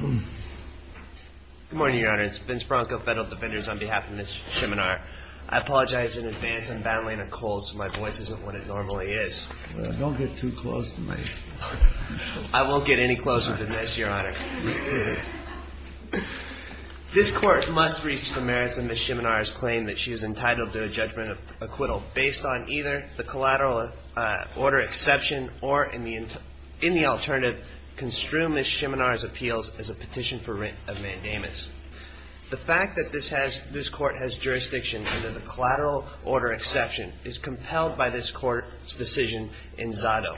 Good morning, Your Honor. It's Vince Bronco, Federal Defenders, on behalf of Ms. Schemenauer. I apologize in advance I'm battling a cold so my voice isn't what it normally is. Don't get too close to me. I won't get any closer than this, Your Honor. This court must reach the merits of Ms. Schemenauer's claim that she is entitled to a judgment of acquittal based on either the collateral order exception or, in the alternative, construe Ms. Schemenauer's appeals as a petition for rent of mandamus. The fact that this court has jurisdiction under the collateral order exception is compelled by this court's decision in Zado.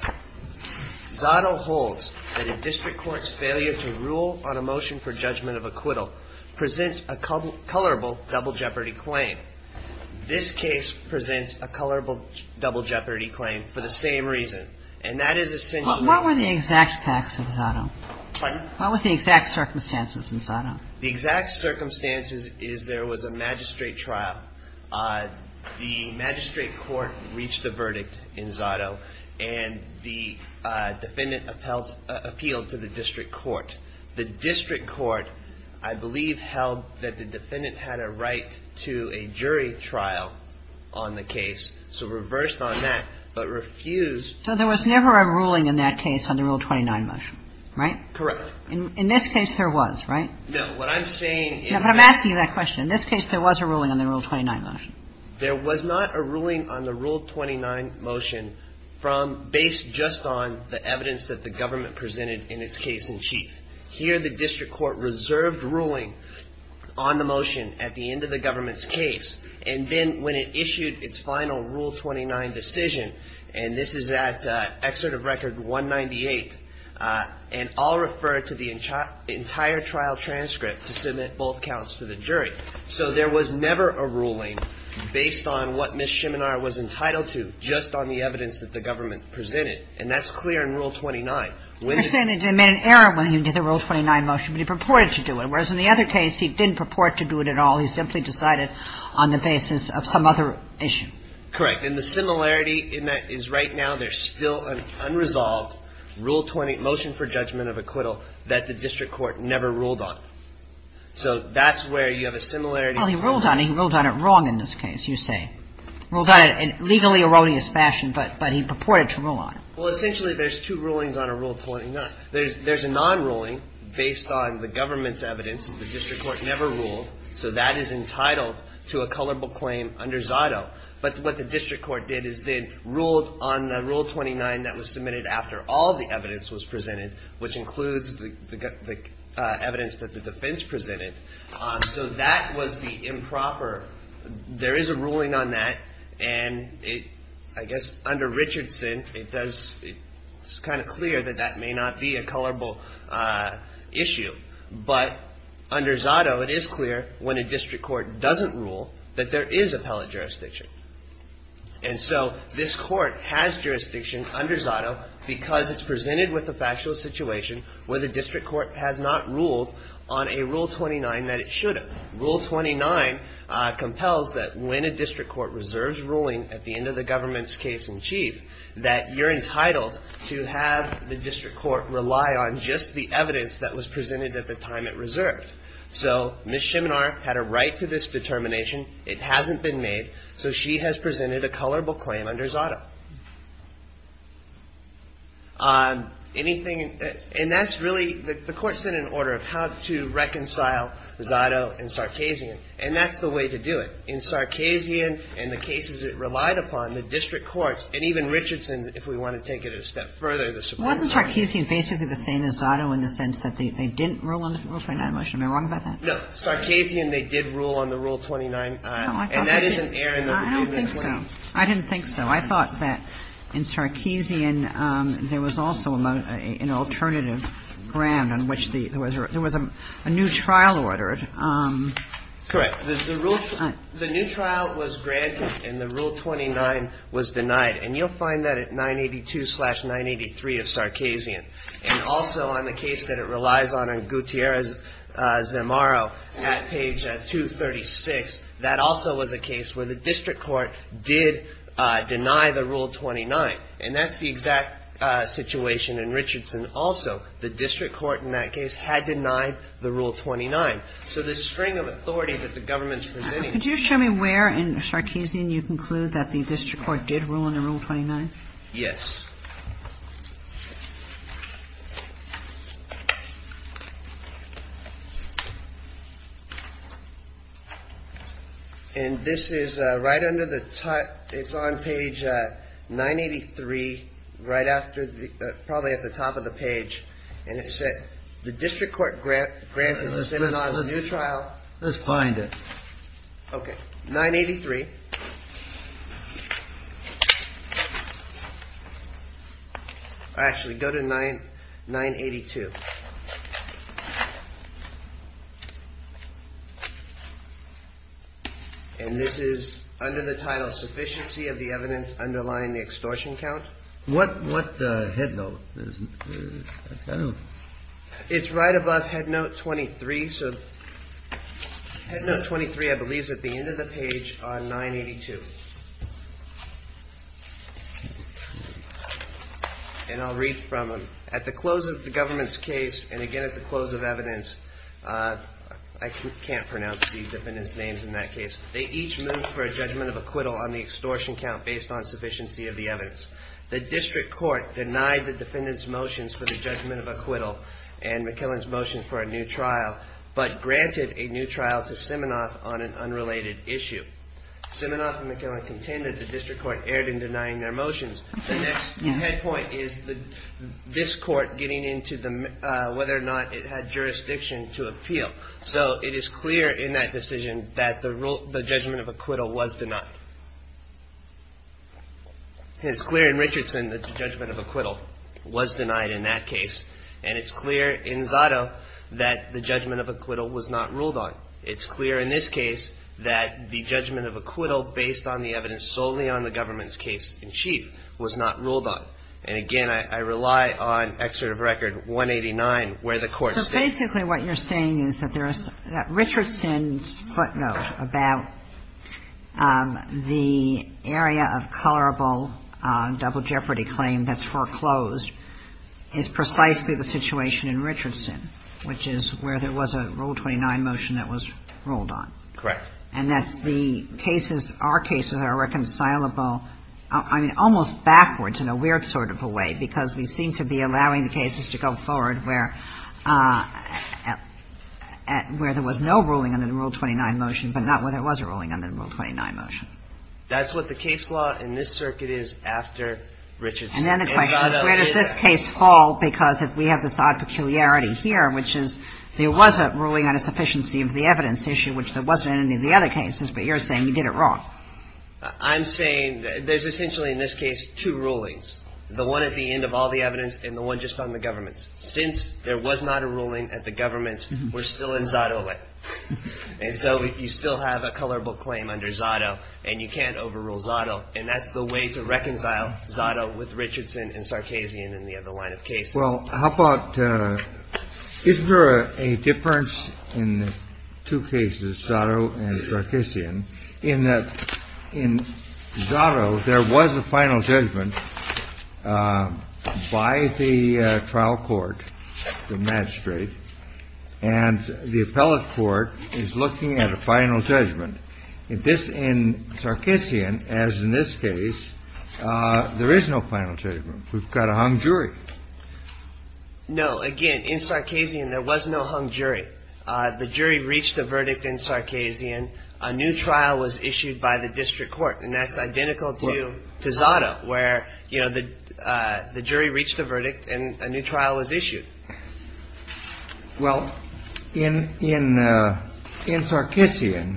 Zado holds that a district court's failure to rule on a motion for judgment of acquittal presents a colorable double jeopardy claim. This case presents a colorable double jeopardy claim for the same reason, and that is essentially What were the exact facts of Zado? Pardon? What were the exact circumstances in Zado? The exact circumstances is there was a magistrate trial. The magistrate court reached a verdict in Zado, and the defendant appealed to the district court. The district court, I believe, held that the defendant had a right to a jury trial on the case, so reversed on that, but refused So there was never a ruling in that case on the Rule 29 motion, right? Correct. In this case, there was, right? No. What I'm saying is No, but I'm asking you that question. In this case, there was a ruling on the Rule 29 motion. There was not a ruling on the Rule 29 motion based just on the evidence that the government presented in its case in chief. Here, the district court reserved ruling on the motion at the end of the government's case, and then when it issued its final Rule 29 decision, and this is at Excerpt of Record 198, and I'll refer to the entire trial transcript to submit both counts to the jury. So there was never a ruling based on what Ms. Shiminar was entitled to just on the evidence that the government presented, and that's clear in Rule 29. You're saying that they made an error when he did the Rule 29 motion, but he purported to do it, whereas in the other case, he didn't purport to do it at all. He simply decided on the basis of some other issue. Correct. And the similarity in that is right now there's still an unresolved Rule 20 motion for judgment of acquittal that the district court never ruled on. So that's where you have a similarity. Well, he ruled on it. He ruled on it wrong in this case, you say. Ruled on it in a legally erroneous fashion, but he purported to rule on it. Well, essentially, there's two rulings on a Rule 29. There's a non-ruling based on the government's evidence. The district court never ruled, so that is entitled to a colorable claim under Zotto. But what the district court did is they ruled on the Rule 29 that was submitted after all the evidence was presented, which includes the evidence that the defense presented. So that was the improper. There is a ruling on that, and I guess under Richardson, it's kind of clear that that may not be a colorable issue. But under Zotto, it is clear when a district court doesn't rule that there is appellate jurisdiction. And so this court has jurisdiction under Zotto because it's presented with a factual situation where the district court has not ruled on a Rule 29 that it should have. Rule 29 compels that when a district court reserves ruling at the end of the government's case in chief, that you're entitled to have the district court rely on just the evidence that was presented at the time it reserved. So Ms. Shiminar had a right to this determination. It hasn't been made, so she has presented a colorable claim under Zotto. Anything – and that's really – the court's in an order of how to reconcile Zotto and Sarkazian, and that's the way to do it. In Sarkazian and the cases it relied upon, the district courts, and even Richardson, if we want to take it a step further, the Supreme Court – Wasn't Sarkazian basically the same as Zotto in the sense that they didn't rule on the Rule 29 motion? Am I wrong about that? No. Sarkazian they did rule on the Rule 29, and that is an error in the review of the claim. I didn't think so. I thought that in Sarkazian there was also an alternative ground on which the – there was a new trial ordered. Correct. The new trial was granted and the Rule 29 was denied, and you'll find that at 982-983 of Sarkazian. And also on the case that it relies on, on Gutierrez-Zamarro at page 236, that also was a case where the district court did deny the Rule 29. And that's the exact situation in Richardson also. The district court in that case had denied the Rule 29. So the string of authority that the government's presenting – Could you show me where in Sarkazian you conclude that the district court did rule on the Rule 29? Yes. And this is right under the – it's on page 983, right after the – probably at the top of the page. And it said the district court granted the citizen a new trial. Let's find it. Okay. 983. Actually, go to 982. And this is under the title, Sufficiency of the Evidence Underlying the Extortion Count. What headnote is it? I don't know. It's right above headnote 23. Headnote 23, I believe, is at the end of the page on 982. And I'll read from it. At the close of the government's case, and again at the close of evidence – I can't pronounce the defendants' names in that case – they each moved for a judgment of acquittal on the extortion count based on sufficiency of the evidence. The district court denied the defendants' motions for the judgment of acquittal and McKillen's motion for a new trial, but granted a new trial to Siminoff on an unrelated issue. Siminoff and McKillen contended the district court erred in denying their motions. The next head point is this court getting into the – whether or not it had jurisdiction to appeal. So it is clear in that decision that the judgment of acquittal was denied. It's clear in Richardson that the judgment of acquittal was denied in that case. And it's clear in Zotto that the judgment of acquittal was not ruled on. It's clear in this case that the judgment of acquittal based on the evidence solely on the government's case in chief was not ruled on. And again, I rely on Excerpt of Record 189 where the court states – So basically what you're saying is that there is – that Richardson's footnote about the area of colorable double jeopardy claim that's foreclosed is precisely the situation in Richardson, which is where there was a Rule 29 motion that was ruled on. Correct. And that the cases – our cases are reconcilable – I mean, almost backwards in a weird sort of a way, because we seem to be allowing the cases to go forward where there was no ruling on the Rule 29 motion, but not where there was a ruling on the Rule 29 motion. That's what the case law in this circuit is after Richardson. And then the question is where does this case fall because we have this odd peculiarity here, which is there was a ruling on a sufficiency of the evidence issue, which there wasn't in any of the other cases, but you're saying you did it wrong. I'm saying there's essentially in this case two rulings, the one at the end of all the evidence and the one just on the government's. Since there was not a ruling at the government's, we're still in Zotto land. And so you still have a colorable claim under Zotto, and you can't overrule Zotto. And that's the way to reconcile Zotto with Richardson and Sarkisian and the other line of cases. Well, how about – is there a difference in the two cases, Zotto and Sarkisian, in that in Zotto there was a final judgment by the trial court, the magistrate, and the appellate court is looking at a final judgment. If this in Sarkisian, as in this case, there is no final judgment. We've got a hung jury. No. Again, in Sarkisian there was no hung jury. The jury reached a verdict in Sarkisian. A new trial was issued by the district court. And that's identical to Zotto, where, you know, the jury reached a verdict and a new trial was issued. Well, in Sarkisian,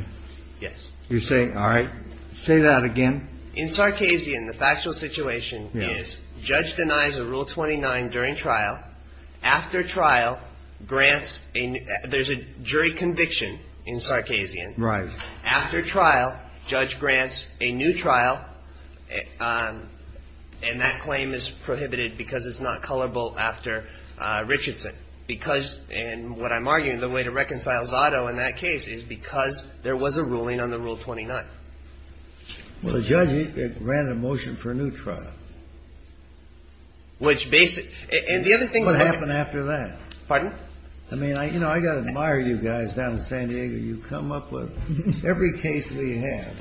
you say – all right, say that again. In Sarkisian, the factual situation is judge denies a Rule 29 during trial. After trial, grants a – there's a jury conviction in Sarkisian. Right. After trial, judge grants a new trial. And that claim is prohibited because it's not colorable after Richardson. Because, and what I'm arguing, the way to reconcile Zotto in that case is because there was a ruling on the Rule 29. Well, the judge ran a motion for a new trial. Which basically – and the other thing – What happened after that? Pardon? I mean, you know, I've got to admire you guys down in San Diego. You come up with – every case we have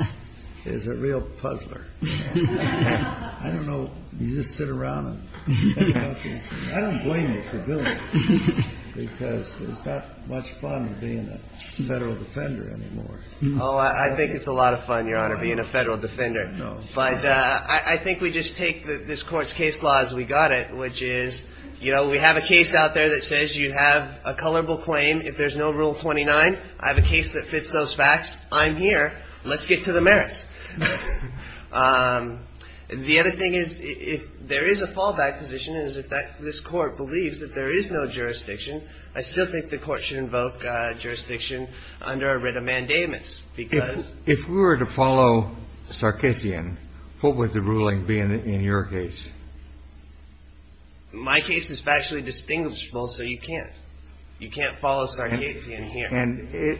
is a real puzzler. I don't know – you just sit around and – I don't blame you for doing it. Because it's not much fun being a federal defender anymore. Oh, I think it's a lot of fun, Your Honor, being a federal defender. No. But I think we just take this court's case law as we got it, which is, you know, we have a case out there that says you have a colorable claim. If there's no Rule 29, I have a case that fits those facts. I'm here. Let's get to the merits. And the other thing is, if there is a fallback position, is that this court believes that there is no jurisdiction, I still think the court should invoke jurisdiction under a writ of mandatements. Because – If we were to follow Sarkisian, what would the ruling be in your case? My case is factually distinguishable, so you can't. You can't follow Sarkisian here. And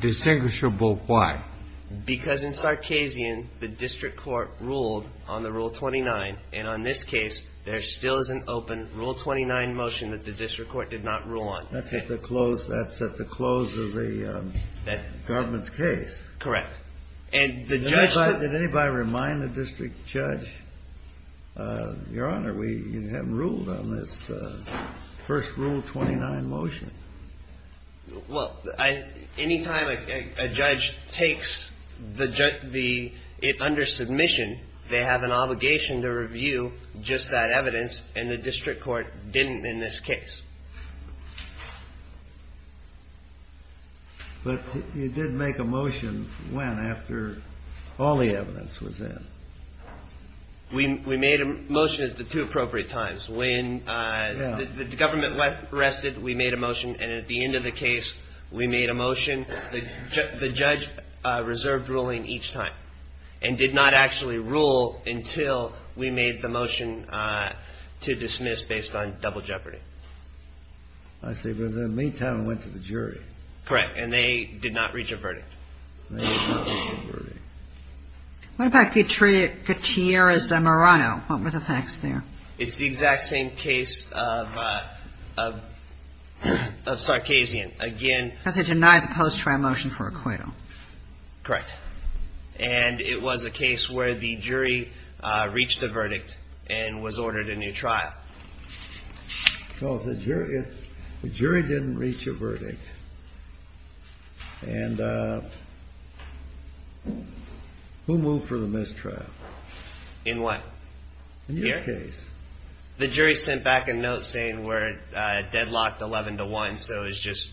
distinguishable why? Because in Sarkisian, the district court ruled on the Rule 29, and on this case there still is an open Rule 29 motion that the district court did not rule on. That's at the close of the government's case. Correct. And the judge said – Your Honor, we haven't ruled on this first Rule 29 motion. Well, any time a judge takes the – it under submission, they have an obligation to review just that evidence, and the district court didn't in this case. But you did make a motion when, after all the evidence was in? We made a motion at the two appropriate times. When the government arrested, we made a motion. And at the end of the case, we made a motion. The judge reserved ruling each time and did not actually rule until we made the motion to dismiss based on double jeopardy. I see. But in the meantime, it went to the jury. Correct. And they did not reach a verdict. They did not reach a verdict. What about Gutierrez-Zamorano? What were the facts there? It's the exact same case of Sarkazian. Again – Because they denied the post-trial motion for acquittal. Correct. And it was a case where the jury reached a verdict and was ordered a new trial. No, the jury didn't reach a verdict. And who moved for the mistrial? In what? In your case. The jury sent back a note saying we're deadlocked 11 to 1, so it was just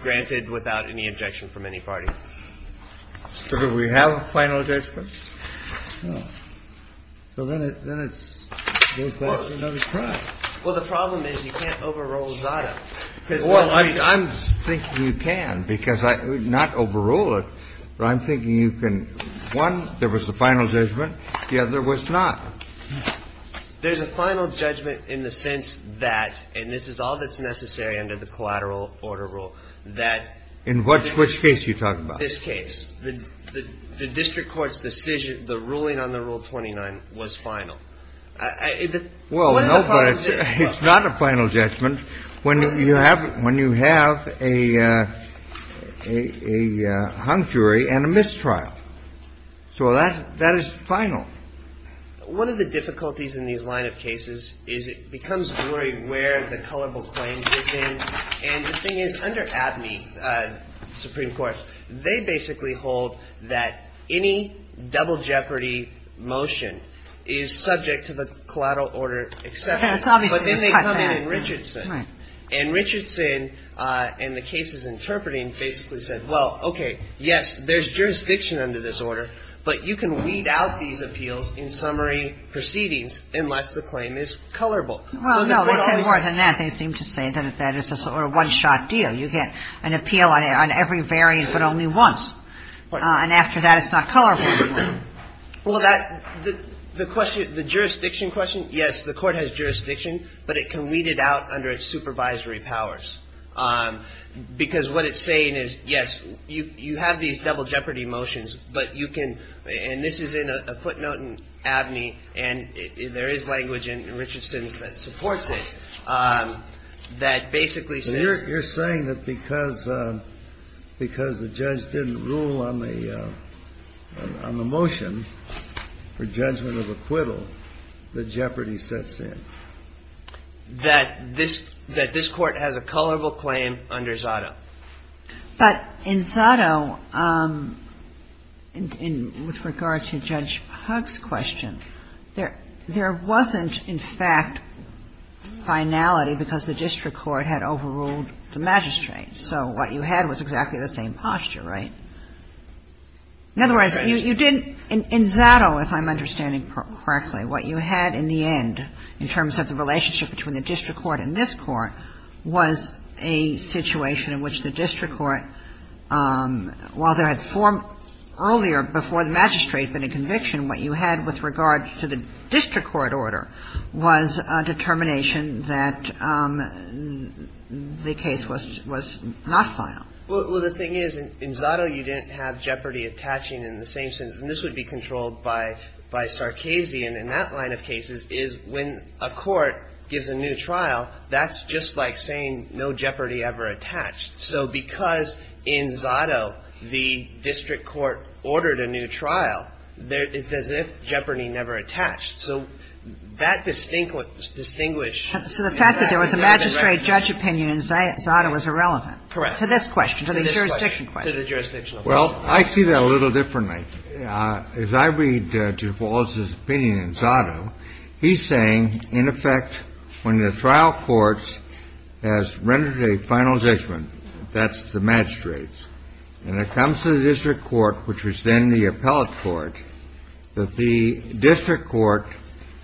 granted without any objection from any party. So do we have a final judgment? No. So then it goes back to another trial. Well, the problem is you can't overrule Zotto. Well, I'm thinking you can because not overrule it, but I'm thinking you can – one, there was a final judgment. The other was not. There's a final judgment in the sense that, and this is all that's necessary under the collateral order rule, that – In which case are you talking about? This case. The district court's decision, the ruling on the Rule 29 was final. Well, no, but it's not a final judgment. It's a final judgment when you have a hung jury and a mistrial. So that is final. One of the difficulties in these line of cases is it becomes blurry where the colorable claims get in. And the thing is, under ADME, the Supreme Court, they basically hold that any double jeopardy motion is subject to the collateral order exception. But then they come in in Richardson. And Richardson, in the cases interpreting, basically said, well, okay, yes, there's jurisdiction under this order, but you can weed out these appeals in summary proceedings unless the claim is colorable. Well, no, because more than that, they seem to say that that is a sort of one-shot deal. You get an appeal on every variant but only once. And after that, it's not colorable anymore. Well, that the question, the jurisdiction question, yes, the court has jurisdiction, but it can weed it out under its supervisory powers. Because what it's saying is, yes, you have these double jeopardy motions, but you can, and this is in a footnote in ADME, and there is language in Richardson's that supports it, that basically says. You're saying that because the judge didn't rule on the motion for judgment of acquittal, the jeopardy sets in? That this Court has a colorable claim under Zotto. But in Zotto, with regard to Judge Hugg's question, there wasn't, in fact, finality because the district court had overruled the magistrate. So what you had was exactly the same posture, right? In other words, you didn't – in Zotto, if I'm understanding correctly, what you had in the end, in terms of the relationship between the district court and this Court, was a situation in which the district court, while there had formed earlier before the magistrate been a conviction, what you had with regard to the district court order was a determination that the case was not final. Well, the thing is, in Zotto, you didn't have jeopardy attaching in the same sense. And this would be controlled by Sarkisian in that line of cases, is when a court gives a new trial, that's just like saying no jeopardy ever attached. So because in Zotto, the district court ordered a new trial, it's as if jeopardy never attached. So that distinguished – distinguished. So the fact that there was a magistrate judge opinion in Zotto was irrelevant. Correct. To this question, to the jurisdiction question. To the jurisdiction. Well, I see that a little differently. As I read Duval's opinion in Zotto, he's saying, in effect, when the trial court has rendered a final judgment, that's the magistrates, and it comes to the district court, which was then the appellate court, that the district court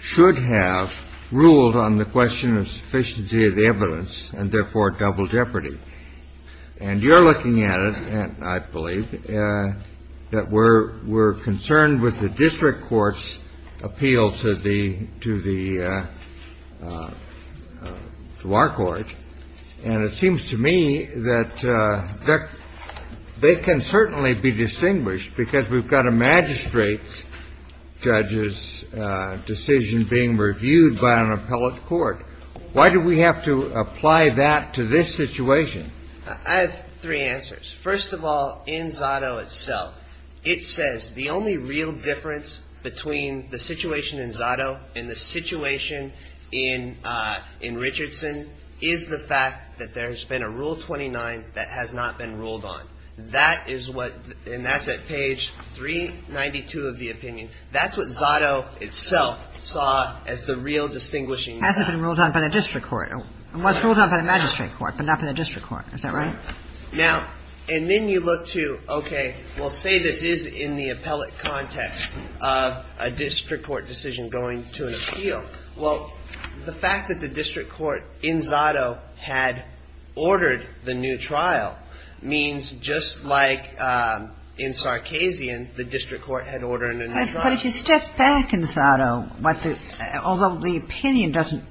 should have ruled on the question of sufficiency of evidence and, therefore, double jeopardy. And you're looking at it, I believe, that we're concerned with the district court's appeal to the – to the – to our court, and it seems to me that they can certainly be distinguished, because we've got a magistrate judge's decision being reviewed by an appellate court. Why do we have to apply that to this situation? I have three answers. First of all, in Zotto itself, it says the only real difference between the situation in Zotto and the situation in Richardson is the fact that there's been a Rule 29 that has not been ruled on. That is what – and that's at page 392 of the opinion. That's what Zotto itself saw as the real distinguishing – Hasn't been ruled on by the district court. It was ruled on by the magistrate court, but not by the district court. Is that right? Now – and then you look to, okay, well, say this is in the appellate context of a district court decision going to an appeal. Well, the fact that the district court in Zotto had ordered the new trial means just like in Sarkazian, the district court had ordered a new trial. But if you step back in Zotto, although the opinion doesn't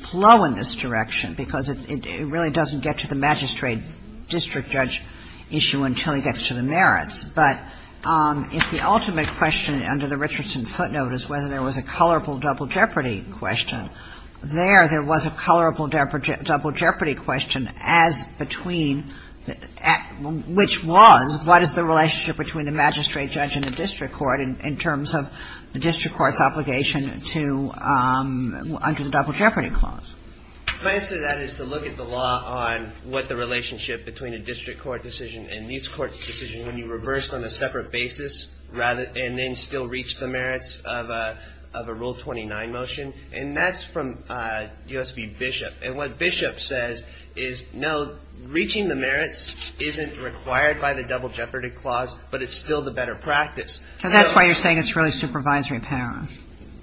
flow in this direction because it really doesn't get to the magistrate district judge issue until he gets to the merits, but if the ultimate question under the Richardson footnote is whether there was a colorable double jeopardy question, there, there was a colorable double jeopardy question as between – which was, what is the relationship between the magistrate judge and the district court in terms of the district court's obligation to – under the double jeopardy clause? My answer to that is to look at the law on what the relationship between a district court decision and these courts' decision when you reverse on a separate basis and then still reach the merits of a Rule 29 motion. And that's from U.S.B. Bishop. And what Bishop says is, no, reaching the merits isn't required by the double jeopardy clause, but it's still the better practice. So that's why you're saying it's really supervisory power.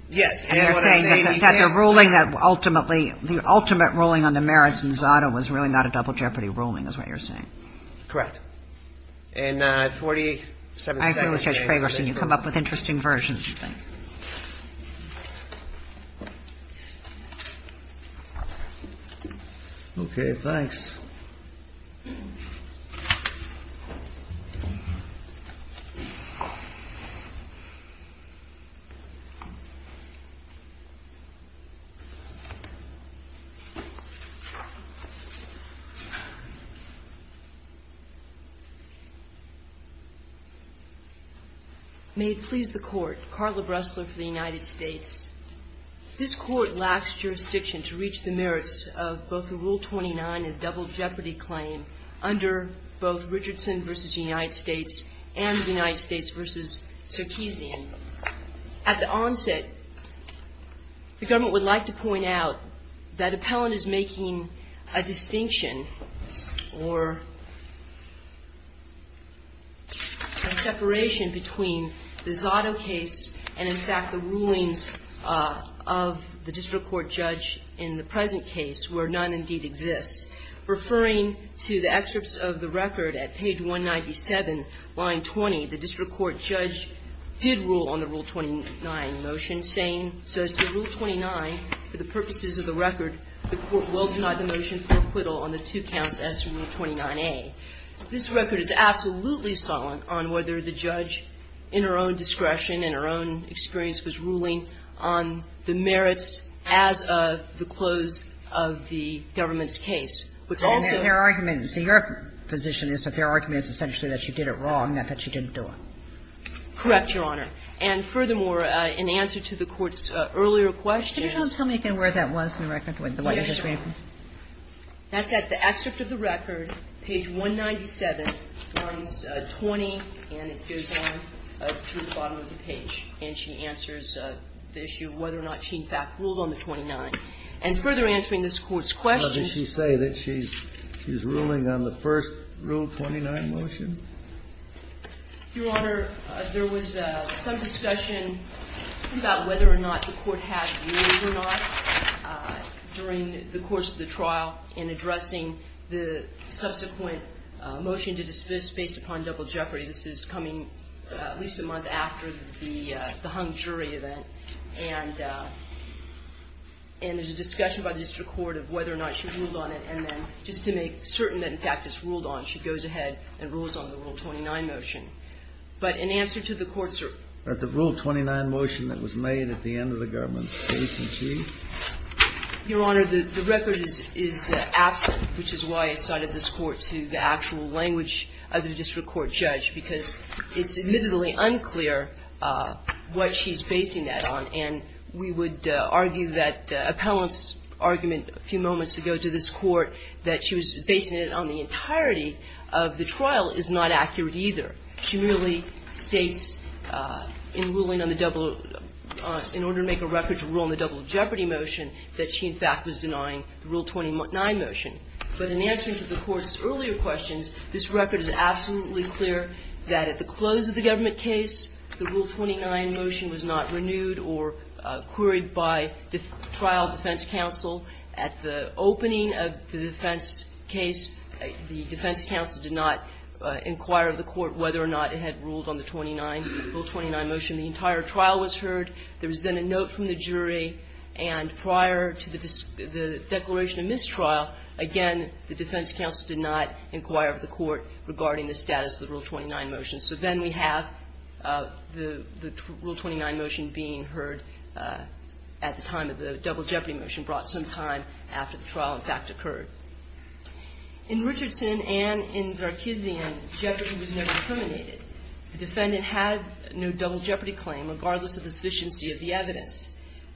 Yes. And you're saying that the ruling that ultimately – the ultimate ruling on the merits in Zotto was really not a double jeopardy ruling is what you're saying. Correct. And 47 – I agree with Judge Fragerson. You come up with interesting versions of things. Okay. Thanks. May it please the Court. Carla Bressler for the United States. This Court lacks jurisdiction to reach the merits of both the Rule 29 and double jeopardy claim under both Richardson v. United States and United States v. Circassian. At the onset, the government would like to point out that Appellant is making a motion for a separation between the Zotto case and, in fact, the rulings of the district court judge in the present case where none indeed exists. Referring to the excerpts of the record at page 197, line 20, the district court judge did rule on the Rule 29 motion, saying, so as to Rule 29, for the purposes of This record is absolutely silent on whether the judge, in her own discretion and her own experience, was ruling on the merits as of the close of the government's case, which also – And their argument – see, your position is that their argument is essentially that she did it wrong, not that she didn't do it. Correct, Your Honor. And furthermore, in answer to the Court's earlier questions – Can you tell me again where that was in the record? That's at the excerpt of the record, page 197, lines 20, and it goes on to the bottom of the page. And she answers the issue of whether or not she, in fact, ruled on the 29. And further answering this Court's questions – Well, did she say that she's ruling on the first Rule 29 motion? Your Honor, there was some discussion about whether or not the Court had ruled or not. During the course of the trial, in addressing the subsequent motion to dismiss based upon double jeopardy. This is coming at least a month after the hung jury event. And there's a discussion by the District Court of whether or not she ruled on it. And then, just to make certain that, in fact, it's ruled on, she goes ahead and rules on the Rule 29 motion. But in answer to the Court's – At the Rule 29 motion that was made at the end of the government's case, was she? Your Honor, the record is absent, which is why I cited this Court to the actual language of the District Court judge. Because it's admittedly unclear what she's basing that on. And we would argue that Appellant's argument a few moments ago to this Court that she was basing it on the entirety of the trial is not accurate either. She merely states in ruling on the double – in order to make a record to rule on the double jeopardy motion, that she, in fact, was denying the Rule 29 motion. But in answering to the Court's earlier questions, this record is absolutely clear that at the close of the government case, the Rule 29 motion was not renewed or queried by the trial defense counsel. At the opening of the defense case, the defense counsel did not inquire of the Court whether or not it had ruled on the Rule 29 motion. The entire trial was heard. There was then a note from the jury. And prior to the declaration of mistrial, again, the defense counsel did not inquire of the Court regarding the status of the Rule 29 motion. So then we have the Rule 29 motion being heard at the time of the double jeopardy motion brought some time after the trial, in fact, occurred. In Richardson and in Zarkezian, jeopardy was never terminated. The defendant had no double jeopardy claim, regardless of the sufficiency of the evidence.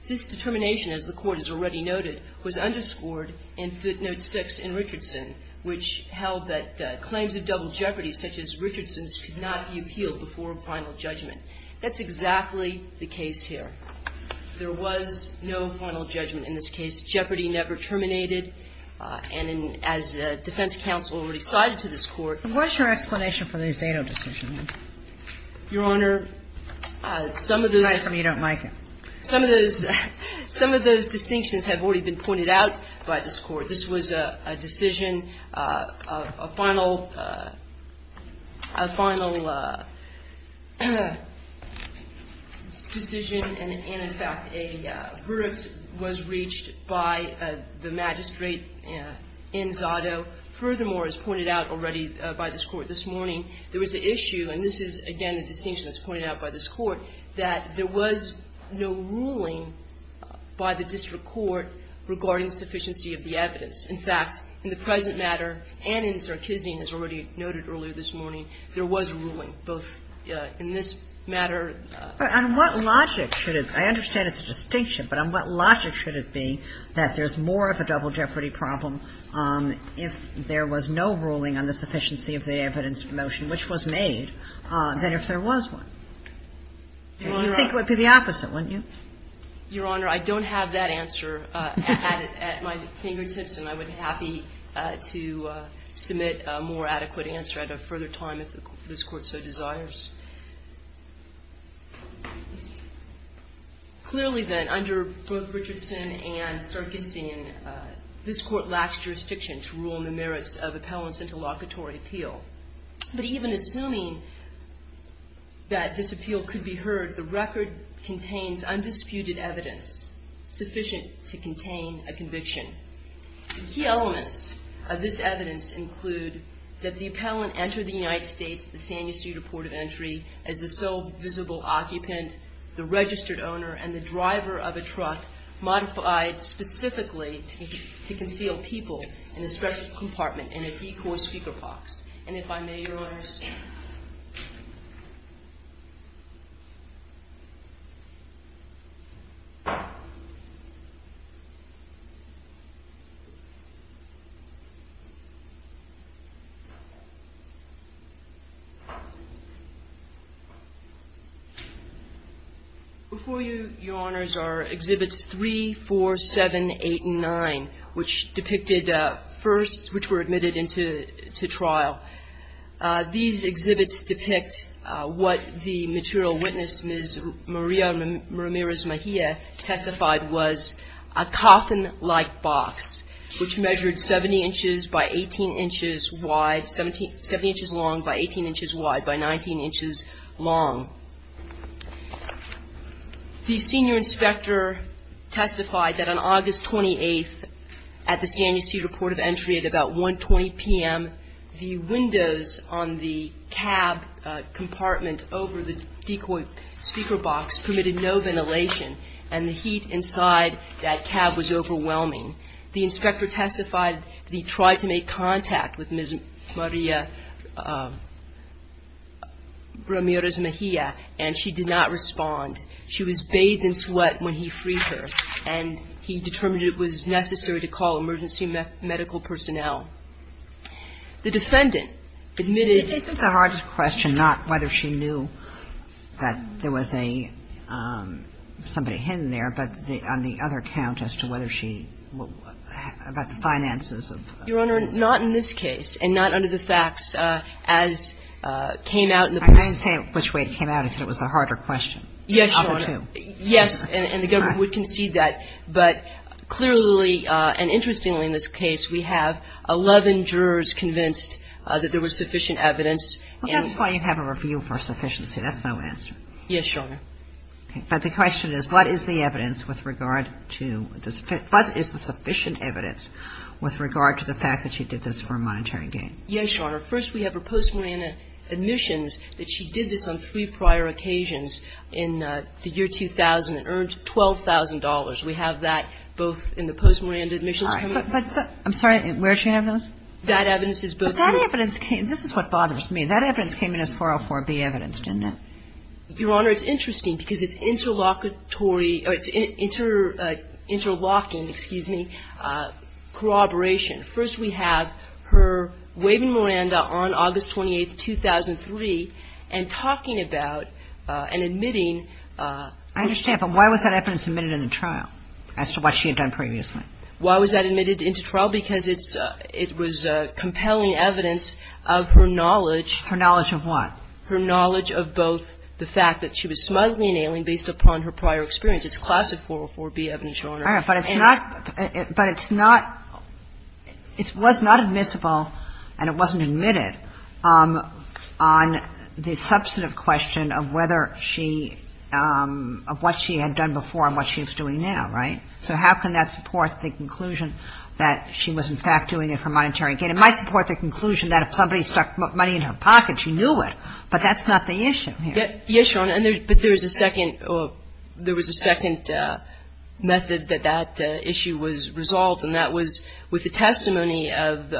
This determination, as the Court has already noted, was underscored in footnote 6 in Richardson, which held that claims of double jeopardy, such as Richardson's, could not be appealed before final judgment. That's exactly the case here. There was no final judgment in this case. Jeopardy never terminated. And as the defense counsel already cited to this Court ---- And what's your explanation for the Zato decision? Your Honor, some of those ---- It's nice when you don't like it. Some of those distinctions have already been pointed out by this Court. This was a decision, a final decision, and, in fact, a verdict was reached by the magistrate in Zato. Furthermore, as pointed out already by this Court this morning, there was the issue ---- and this is, again, a distinction that's pointed out by this Court ---- that there was no ruling by the district court regarding sufficiency of the evidence. In fact, in the present matter and in Zarkezian, as already noted earlier this morning, there was a ruling, both in this matter ---- But on what logic should it ---- I understand it's a distinction, but on what logic should it be that there's more of a double jeopardy problem if there was no ruling on the sufficiency of the evidence promotion, which was made, than if there was one? You'd think it would be the opposite, wouldn't you? Your Honor, I don't have that answer at my fingertips, and I would be happy to submit a more adequate answer at a further time if this Court so desires. Clearly, then, under both Richardson and Zarkezian, this Court lacks jurisdiction to rule on the merits of appellant's interlocutory appeal. But even assuming that this appeal could be heard, the record contains undisputed evidence sufficient to contain a conviction. Key elements of this evidence include that the appellant entered the United States at the San Ysidro Port of Entry as the sole visible occupant, the registered owner, and the driver of a truck modified specifically to conceal people in a special compartment in a decor speaker box. Before you, Your Honors, are Exhibits 3, 4, 7, 8, and 9, which depicted first, which were admitted into trial. These exhibits depict what the material witness, Ms. Maria Ramirez Mejia, testified was a coffin-like box, which measured 70 inches by 18 inches wide, 70 inches long by 18 inches wide by 19 inches long. The senior inspector testified that on August 28th at the San Ysidro Port of Entry at about 1.20 p.m., the windows on the cab compartment over the decoy speaker box permitted no ventilation, and the heat inside that cab was overwhelming. The inspector testified that he tried to make contact with Ms. Maria Ramirez Mejia, and she did not respond. She was bathed in sweat when he freed her, and he determined it was necessary to call emergency medical personnel. The defendant admitted that the box was a coffin-like box. So, Your Honor, what is the evidence with regard to this case? What is the evidence with regard to the finances of the case? Your Honor, not in this case, and not under the facts as came out in the briefs. I didn't say which way it came out. I said it was the harder question. Yes, Your Honor. Yes, and the government would concede that. But clearly, and interestingly in this case, we have 11 jurors convinced that there was sufficient evidence. Well, that's why you have a review for sufficiency. That's no answer. Yes, Your Honor. Okay. But the question is, what is the evidence with regard to the sufficient evidence with regard to the fact that she did this for monetary gain? Yes, Your Honor. First, we have her post-mortem admissions that she did this on three prior occasions in the year 2000 and earned $12,000. We have that both in the post-mortem admissions. All right. I'm sorry. Where did she have those? That evidence is both here. But that evidence came – this is what bothers me. That evidence came in as 404B evidence, didn't it? Your Honor, it's interesting because it's interlocutory – or it's interlocking, excuse me, corroboration. First, we have her waving Miranda on August 28, 2003, and talking about and admitting I understand. But why was that evidence admitted into trial as to what she had done previously? Why was that admitted into trial? Because it's – it was compelling evidence of her knowledge. Her knowledge of what? Her knowledge of both the fact that she was smugly inhaling based upon her prior experience. It's classed as 404B evidence, Your Honor. All right. But it's not – but it's not – it was not admissible and it wasn't admitted on the substantive question of whether she – of what she had done before and what she was doing now, right? So how can that support the conclusion that she was, in fact, doing it for monetary gain? It might support the conclusion that if somebody stuck money in her pocket, she knew it. But that's not the issue here. Yes, Your Honor. But there was a second – there was a second method that that issue was resolved, and that was with the testimony of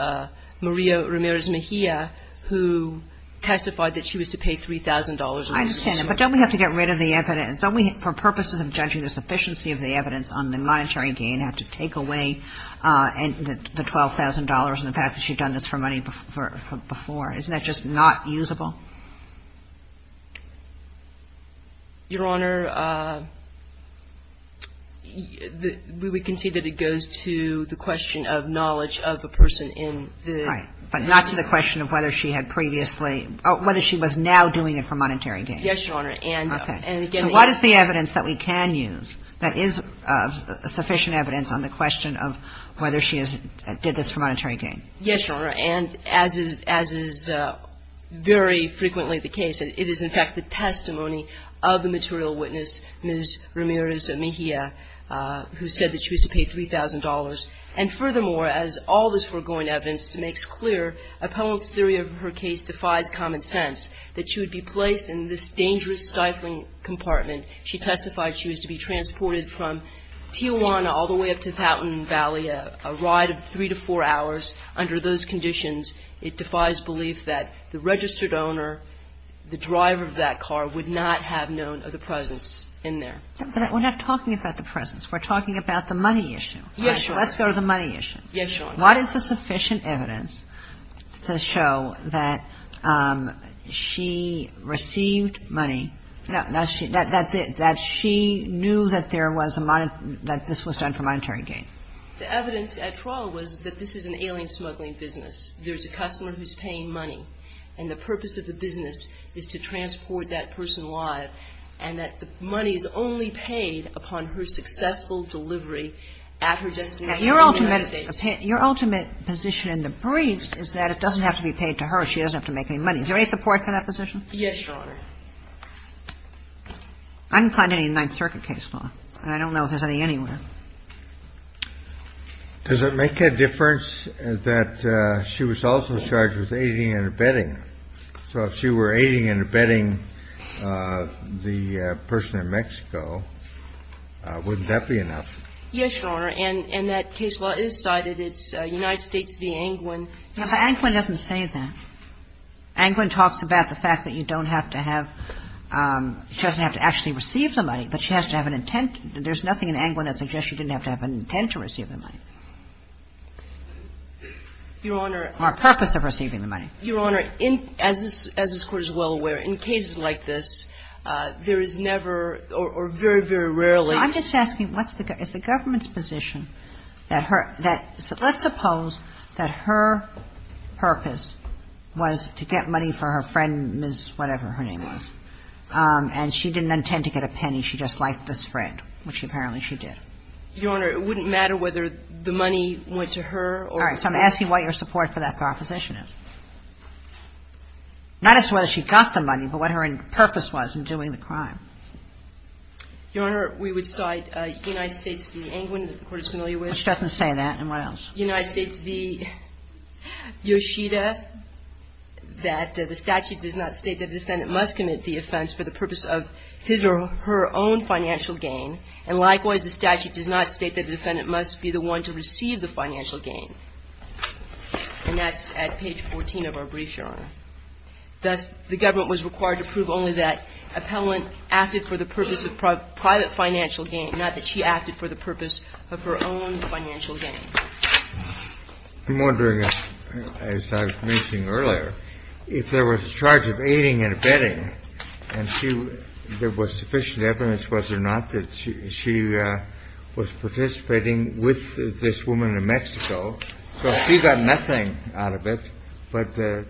Maria Ramirez Mejia, who testified that she was to pay $3,000. I understand that. But don't we have to get rid of the evidence? Don't we, for purposes of judging the sufficiency of the evidence on the monetary gain, have to take away the $12,000 and the fact that she had done this for money before? Isn't that just not usable? Your Honor, we would concede that it goes to the question of knowledge of the person in the case. Right. But not to the question of whether she had previously – or whether she was now doing it for monetary gain. Yes, Your Honor. Okay. And, again – So what is the evidence that we can use that is sufficient evidence on the question of whether she did this for monetary gain? Yes, Your Honor. And as is very frequently the case, it is, in fact, the testimony of the material witness, Ms. Ramirez Mejia, who said that she was to pay $3,000. And, furthermore, as all this foregoing evidence makes clear, a poet's theory of her case defies common sense, that she would be placed in this dangerous stifling compartment. She testified she was to be transported from Tijuana all the way up to Fountain Valley, a ride of three to four hours. Under those conditions, it defies belief that the registered owner, the driver of that car would not have known of the presence in there. But we're not talking about the presence. We're talking about the money issue. Yes, Your Honor. Let's go to the money issue. Yes, Your Honor. What is the sufficient evidence to show that she received money, that she knew that there was a – that this was done for monetary gain? The evidence at trial was that this is an alien smuggling business. There's a customer who's paying money, and the purpose of the business is to transport that person alive, and that the money is only paid upon her successful delivery at her destination in the States. Now, your ultimate position in the briefs is that it doesn't have to be paid to her. She doesn't have to make any money. Is there any support for that position? Yes, Your Honor. I didn't find any in Ninth Circuit case law, and I don't know if there's any anywhere. Does it make a difference that she was also charged with aiding and abetting? So if she were aiding and abetting the person in Mexico, wouldn't that be enough? Yes, Your Honor. And that case law is cited. It's United States v. Angwin. No, but Angwin doesn't say that. Angwin talks about the fact that you don't have to have – she doesn't have to actually receive the money, but she has to have an intent. There's nothing in Angwin that suggests she didn't have to have an intent to receive the money. Your Honor. Or a purpose of receiving the money. Your Honor, as this Court is well aware, in cases like this, there is never or very, very rarely. I'm just asking, what's the – is the government's position that her – let's suppose that her purpose was to get money for her friend, Ms. whatever her name was, and she didn't intend to get a penny. Does that mean she just liked this friend, which apparently she did? Your Honor, it wouldn't matter whether the money went to her or to her friend. All right. So I'm asking what your support for that proposition is. Not as to whether she got the money, but what her purpose was in doing the crime. Your Honor, we would cite United States v. Angwin that the Court is familiar with. But she doesn't say that. And what else? United States v. Yoshida, that the statute does not state that a defendant must commit the offense for the purpose of his or her own financial gain. And likewise, the statute does not state that the defendant must be the one to receive the financial gain. And that's at page 14 of our brief, Your Honor. Thus, the government was required to prove only that appellant acted for the purpose of private financial gain, not that she acted for the purpose of her own financial I'm wondering, as I was mentioning earlier, if there was a charge of aiding and abetting and there was sufficient evidence, was there not, that she was participating with this woman in Mexico. So if she got nothing out of it, but the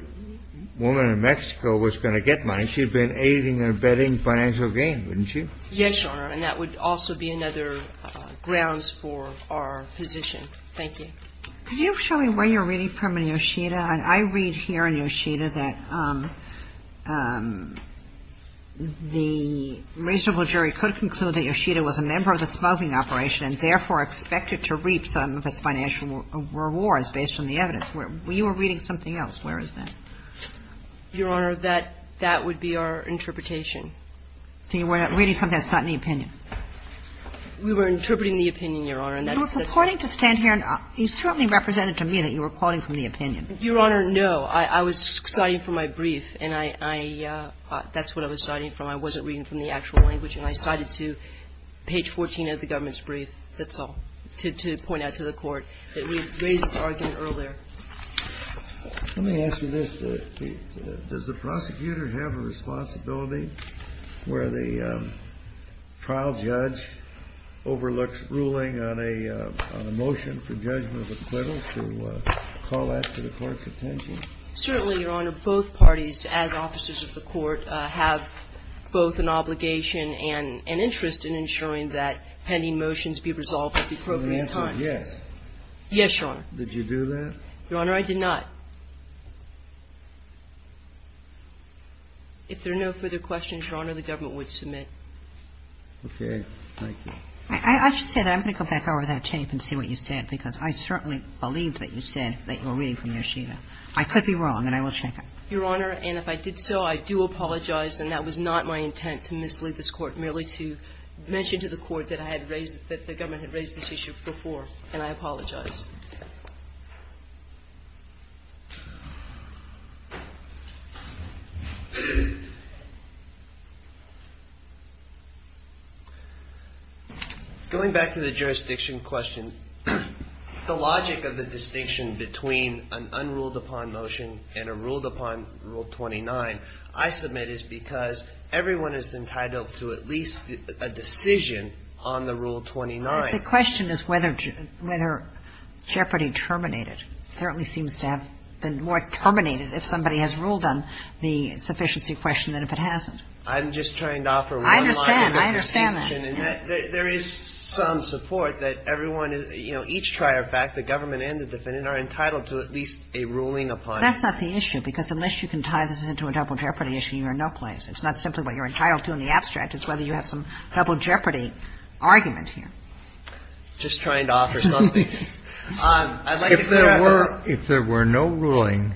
woman in Mexico was going to get money, she'd have been aiding and abetting financial gain, wouldn't she? Yes, Your Honor. And that would also be another grounds for our position. Thank you. Could you show me where you're reading from in Yoshida? I read here in Yoshida that the reasonable jury could conclude that Yoshida was a member of the smogging operation and therefore expected to reap some of its financial rewards based on the evidence. We were reading something else. Where is that? Your Honor, that would be our interpretation. So you were reading something that's not in the opinion? We were interpreting the opinion, Your Honor, and that's the case. You're supporting to stand here and you certainly represented to me that you were quoting from the opinion. Your Honor, no. I was citing from my brief, and I – that's what I was citing from. I wasn't reading from the actual language, and I cited to page 14 of the government's brief, that's all, to point out to the Court that we raised this argument earlier. Let me ask you this. Does the prosecutor have a responsibility where the trial judge overlooks ruling on a motion for judgment of acquittal to call that to the Court's attention? Certainly, Your Honor. Both parties, as officers of the Court, have both an obligation and an interest in ensuring that pending motions be resolved at the appropriate time. So the answer is yes. Yes, Your Honor. Did you do that? Your Honor, I did not. If there are no further questions, Your Honor, the government would submit. Okay. Thank you. I should say that I'm going to go back over that tape and see what you said, because I certainly believed that you said that you were reading from your sheet. I could be wrong, and I will check it. Your Honor, and if I did so, I do apologize, and that was not my intent to mislead this Court, merely to mention to the Court that I had raised – that the government had raised this issue before, and I apologize. Going back to the jurisdiction question, the logic of the distinction between an unruled-upon motion and a ruled-upon Rule 29 I submit is because everyone is entitled to at least a decision on the Rule 29. But the question is whether Jeopardy terminated. It certainly seems to have been more terminated if somebody has ruled on the sufficiency question than if it hasn't. I'm just trying to offer one logic of distinction. I understand. I understand that. There is some support that everyone, you know, each trier fact, the government and the defendant, are entitled to at least a ruling upon it. That's not the issue, because unless you can tie this into a double Jeopardy issue, you're in no place. It's not simply what you're entitled to in the abstract. It's whether you have some double Jeopardy argument here. I'm just trying to offer something. I'd like to put it out there. If there were no ruling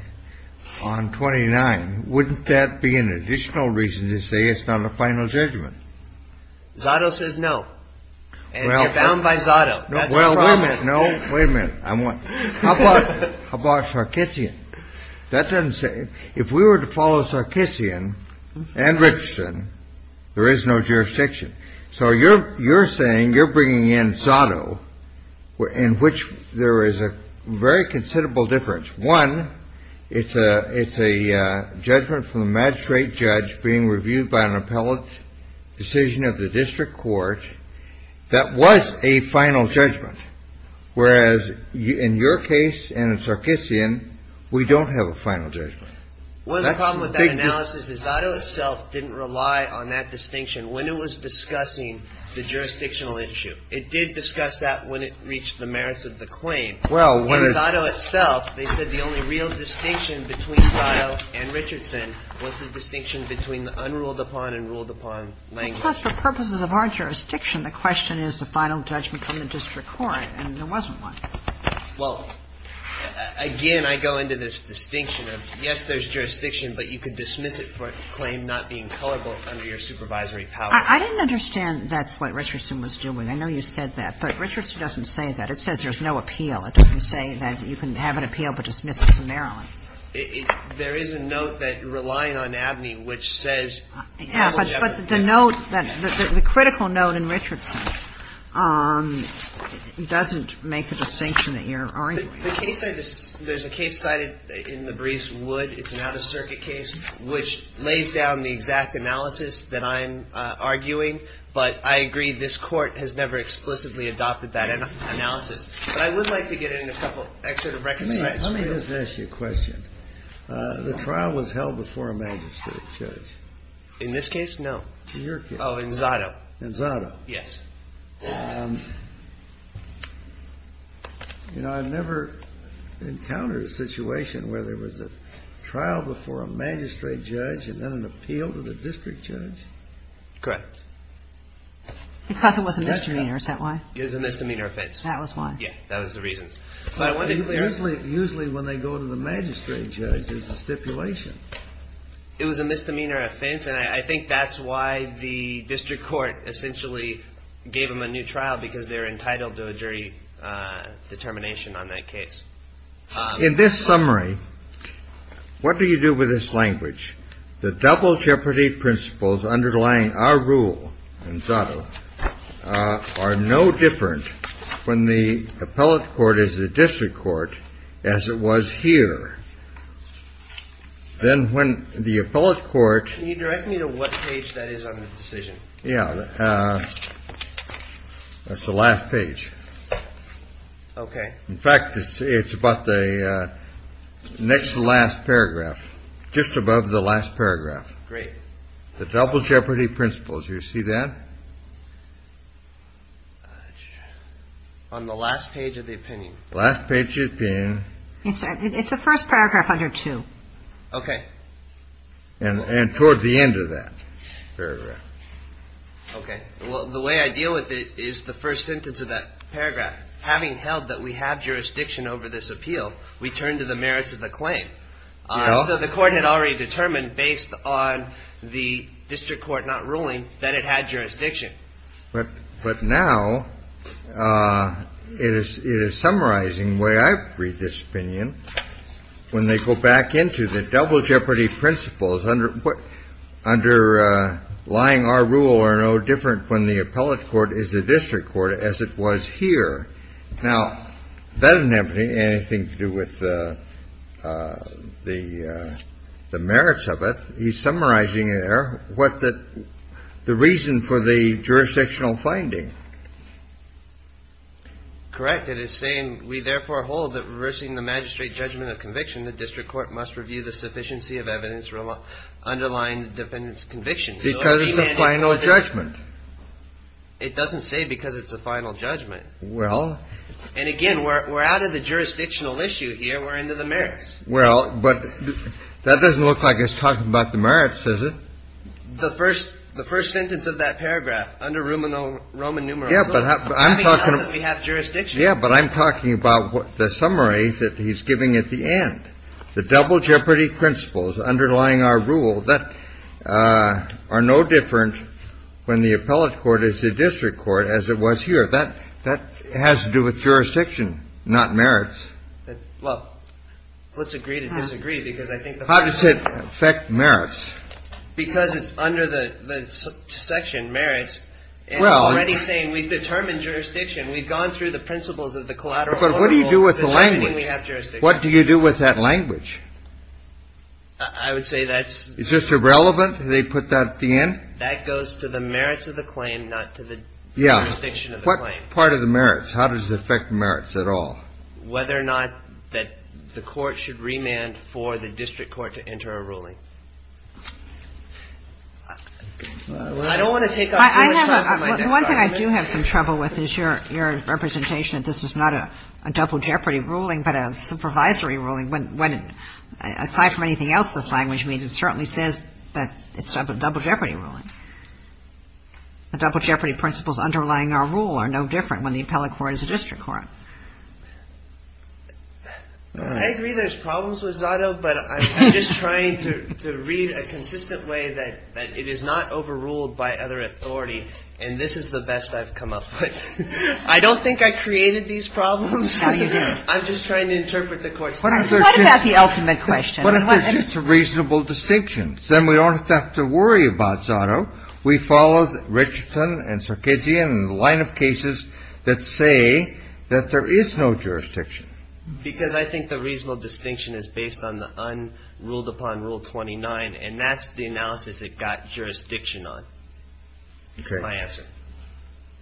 on 29, wouldn't that be an additional reason to say it's not a final judgment? Zotto says no. And you're bound by Zotto. That's the problem. Well, wait a minute. No, wait a minute. How about Sarkissian? That doesn't say. If we were to follow Sarkissian and Richardson, there is no jurisdiction. So you're saying you're bringing in Zotto, in which there is a very considerable difference. One, it's a judgment from the magistrate judge being reviewed by an appellate decision of the district court that was a final judgment. Whereas in your case and in Sarkissian, we don't have a final judgment. One of the problems with that analysis is Zotto itself didn't rely on that distinction. When it was discussing the jurisdictional issue, it did discuss that when it reached the merits of the claim. In Zotto itself, they said the only real distinction between Zotto and Richardson was the distinction between the unruled-upon and ruled-upon language. But just for purposes of our jurisdiction, the question is the final judgment from the district court, and there wasn't one. Well, again, I go into this distinction of, yes, there's jurisdiction, but you could I didn't understand that's what Richardson was doing. I know you said that, but Richardson doesn't say that. It says there's no appeal. It doesn't say that you can have an appeal but dismiss it summarily. There is a note that you're relying on abney, which says But the note, the critical note in Richardson doesn't make the distinction that you're arguing. There's a case cited in the briefs, Wood, it's an out-of-circuit case, which lays down the exact analysis that I'm arguing. But I agree this Court has never explicitly adopted that analysis. But I would like to get in a couple extra to reconcile. Let me just ask you a question. The trial was held before a magistrate judge. In this case, no. In your case. Oh, in Zotto. In Zotto. Yes. You know, I've never encountered a situation where there was a trial before a magistrate judge and then an appeal to the district judge? Correct. Because it was a misdemeanor. Is that why? It was a misdemeanor offense. That was why. Yes. That was the reason. Usually when they go to the magistrate judge, there's a stipulation. It was a misdemeanor offense, and I think that's why the district court essentially gave them a new trial, because they're entitled to a jury determination on that case. In this summary, what do you do with this language? The double jeopardy principles underlying our rule in Zotto are no different when the appellate court is the district court as it was here. Then when the appellate court. Can you direct me to what page that is on the decision? Yeah. That's the last page. Okay. In fact, it's about the next to last paragraph, just above the last paragraph. Great. The double jeopardy principles. You see that? On the last page of the opinion. Last page of the opinion. It's the first paragraph under two. Okay. And toward the end of that paragraph. Okay. Well, the way I deal with it is the first sentence of that paragraph. Having held that we have jurisdiction over this appeal, we turn to the merits of the claim. So the court had already determined based on the district court not ruling that it had jurisdiction. But now it is summarizing the way I read this opinion. When they go back into the double jeopardy principles, underlying our rule are no different when the appellate court is the district court as it was here. Now, that doesn't have anything to do with the merits of it. He's summarizing there what the reason for the jurisdictional finding. Correct. It is saying we therefore hold that reversing the magistrate judgment of conviction, the district court must review the sufficiency of evidence underlying the defendant's conviction. Because it's a final judgment. It doesn't say because it's a final judgment. Well. And again, we're out of the jurisdictional issue here. We're into the merits. Well, but that doesn't look like it's talking about the merits, does it? The first sentence of that paragraph under Roman numerals. Yeah, but I'm talking about the summary that he's giving at the end. The double jeopardy principles underlying our rule that are no different when the appellate court is the district court as it was here. That has to do with jurisdiction, not merits. Well, let's agree to disagree because I think the hard thing is. How does it affect merits? Because it's under the section merits and already saying we've determined jurisdiction. We've gone through the principles of the collateral. But what do you do with the language? What do you do with that language? I would say that's. Is this irrelevant? They put that at the end? That goes to the merits of the claim, not to the jurisdiction of the claim. What part of the merits? How does it affect the merits at all? Whether or not that the court should remand for the district court to enter a ruling. I don't want to take up too much time for my next argument. The one thing I do have some trouble with is your representation that this is not a double jeopardy ruling, but a supervisory ruling. When, aside from anything else, this language means it certainly says that it's a double jeopardy ruling. The double jeopardy principles underlying our rule are no different when the appellate court is the district court. I agree there's problems with Zotto, but I'm just trying to read a consistent way that it is not overruled by other authority. And this is the best I've come up with. I don't think I created these problems. I'm just trying to interpret the court's time. What about the ultimate question? But if there's just a reasonable distinction, then we don't have to worry about Zotto. We follow Richardson and Sarkisian and the line of cases that say that there is no jurisdiction. Because I think the reasonable distinction is based on the unruled-upon Rule 29, and that's the analysis it got jurisdiction on. Okay. That's my answer.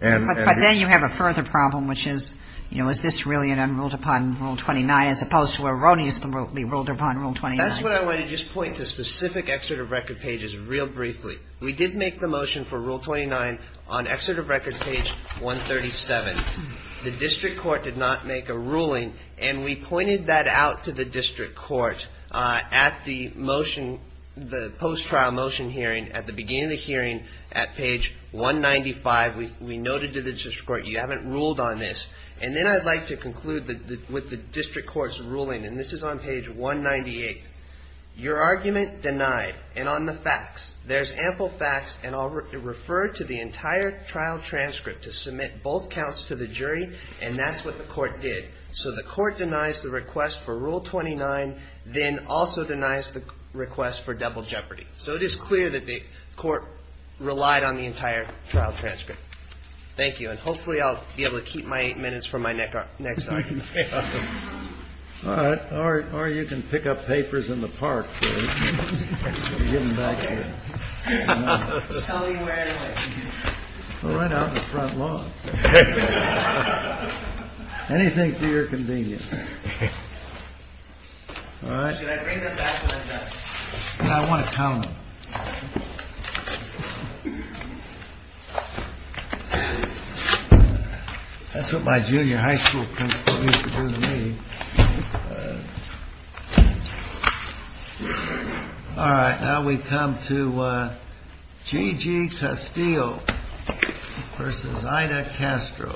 But then you have a further problem, which is, you know, is this really an unruled-upon Rule 29, as opposed to erroneously ruled-upon Rule 29? That's what I wanted to just point to specific excerpt of record pages real briefly. We did make the motion for Rule 29 on excerpt of record page 137. The district court did not make a ruling, and we pointed that out to the district court at the motion, the post-trial motion hearing at the beginning of the hearing at page 195. We noted to the district court, you haven't ruled on this. And then I'd like to conclude with the district court's ruling, and this is on page 198. Your argument denied. And on the facts, there's ample facts, and I'll refer to the entire trial transcript to submit both counts to the jury, and that's what the court did. So the court denies the request for Rule 29, then also denies the request for double jeopardy. So it is clear that the court relied on the entire trial transcript. Thank you. And hopefully I'll be able to keep my eight minutes for my next argument. All right. All right. Or you can pick up papers in the park. All right. Out in the front lawn. Anything for your convenience. All right. I want to tell. All right. That's what my junior high school principal used to do to me. All right. Now we come to Gigi Castillo versus Ida Castro.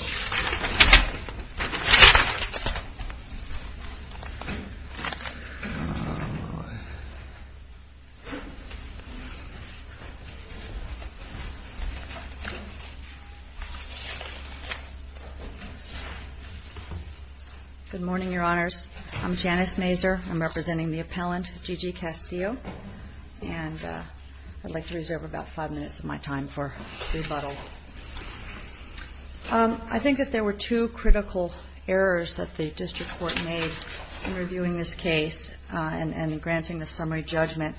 Good morning, Your Honors. I'm Janice Mazur. I'm representing the appellant, Gigi Castillo. And I'd like to reserve about five minutes of my time for rebuttal. I think that there were two critical errors that the district court made in reviewing this case and in granting the summary judgment.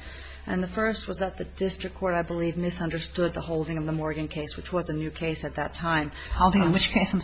The district court, I believe, misunderstood the holding of the Morgan case, which was a new case at that time. Holding which case?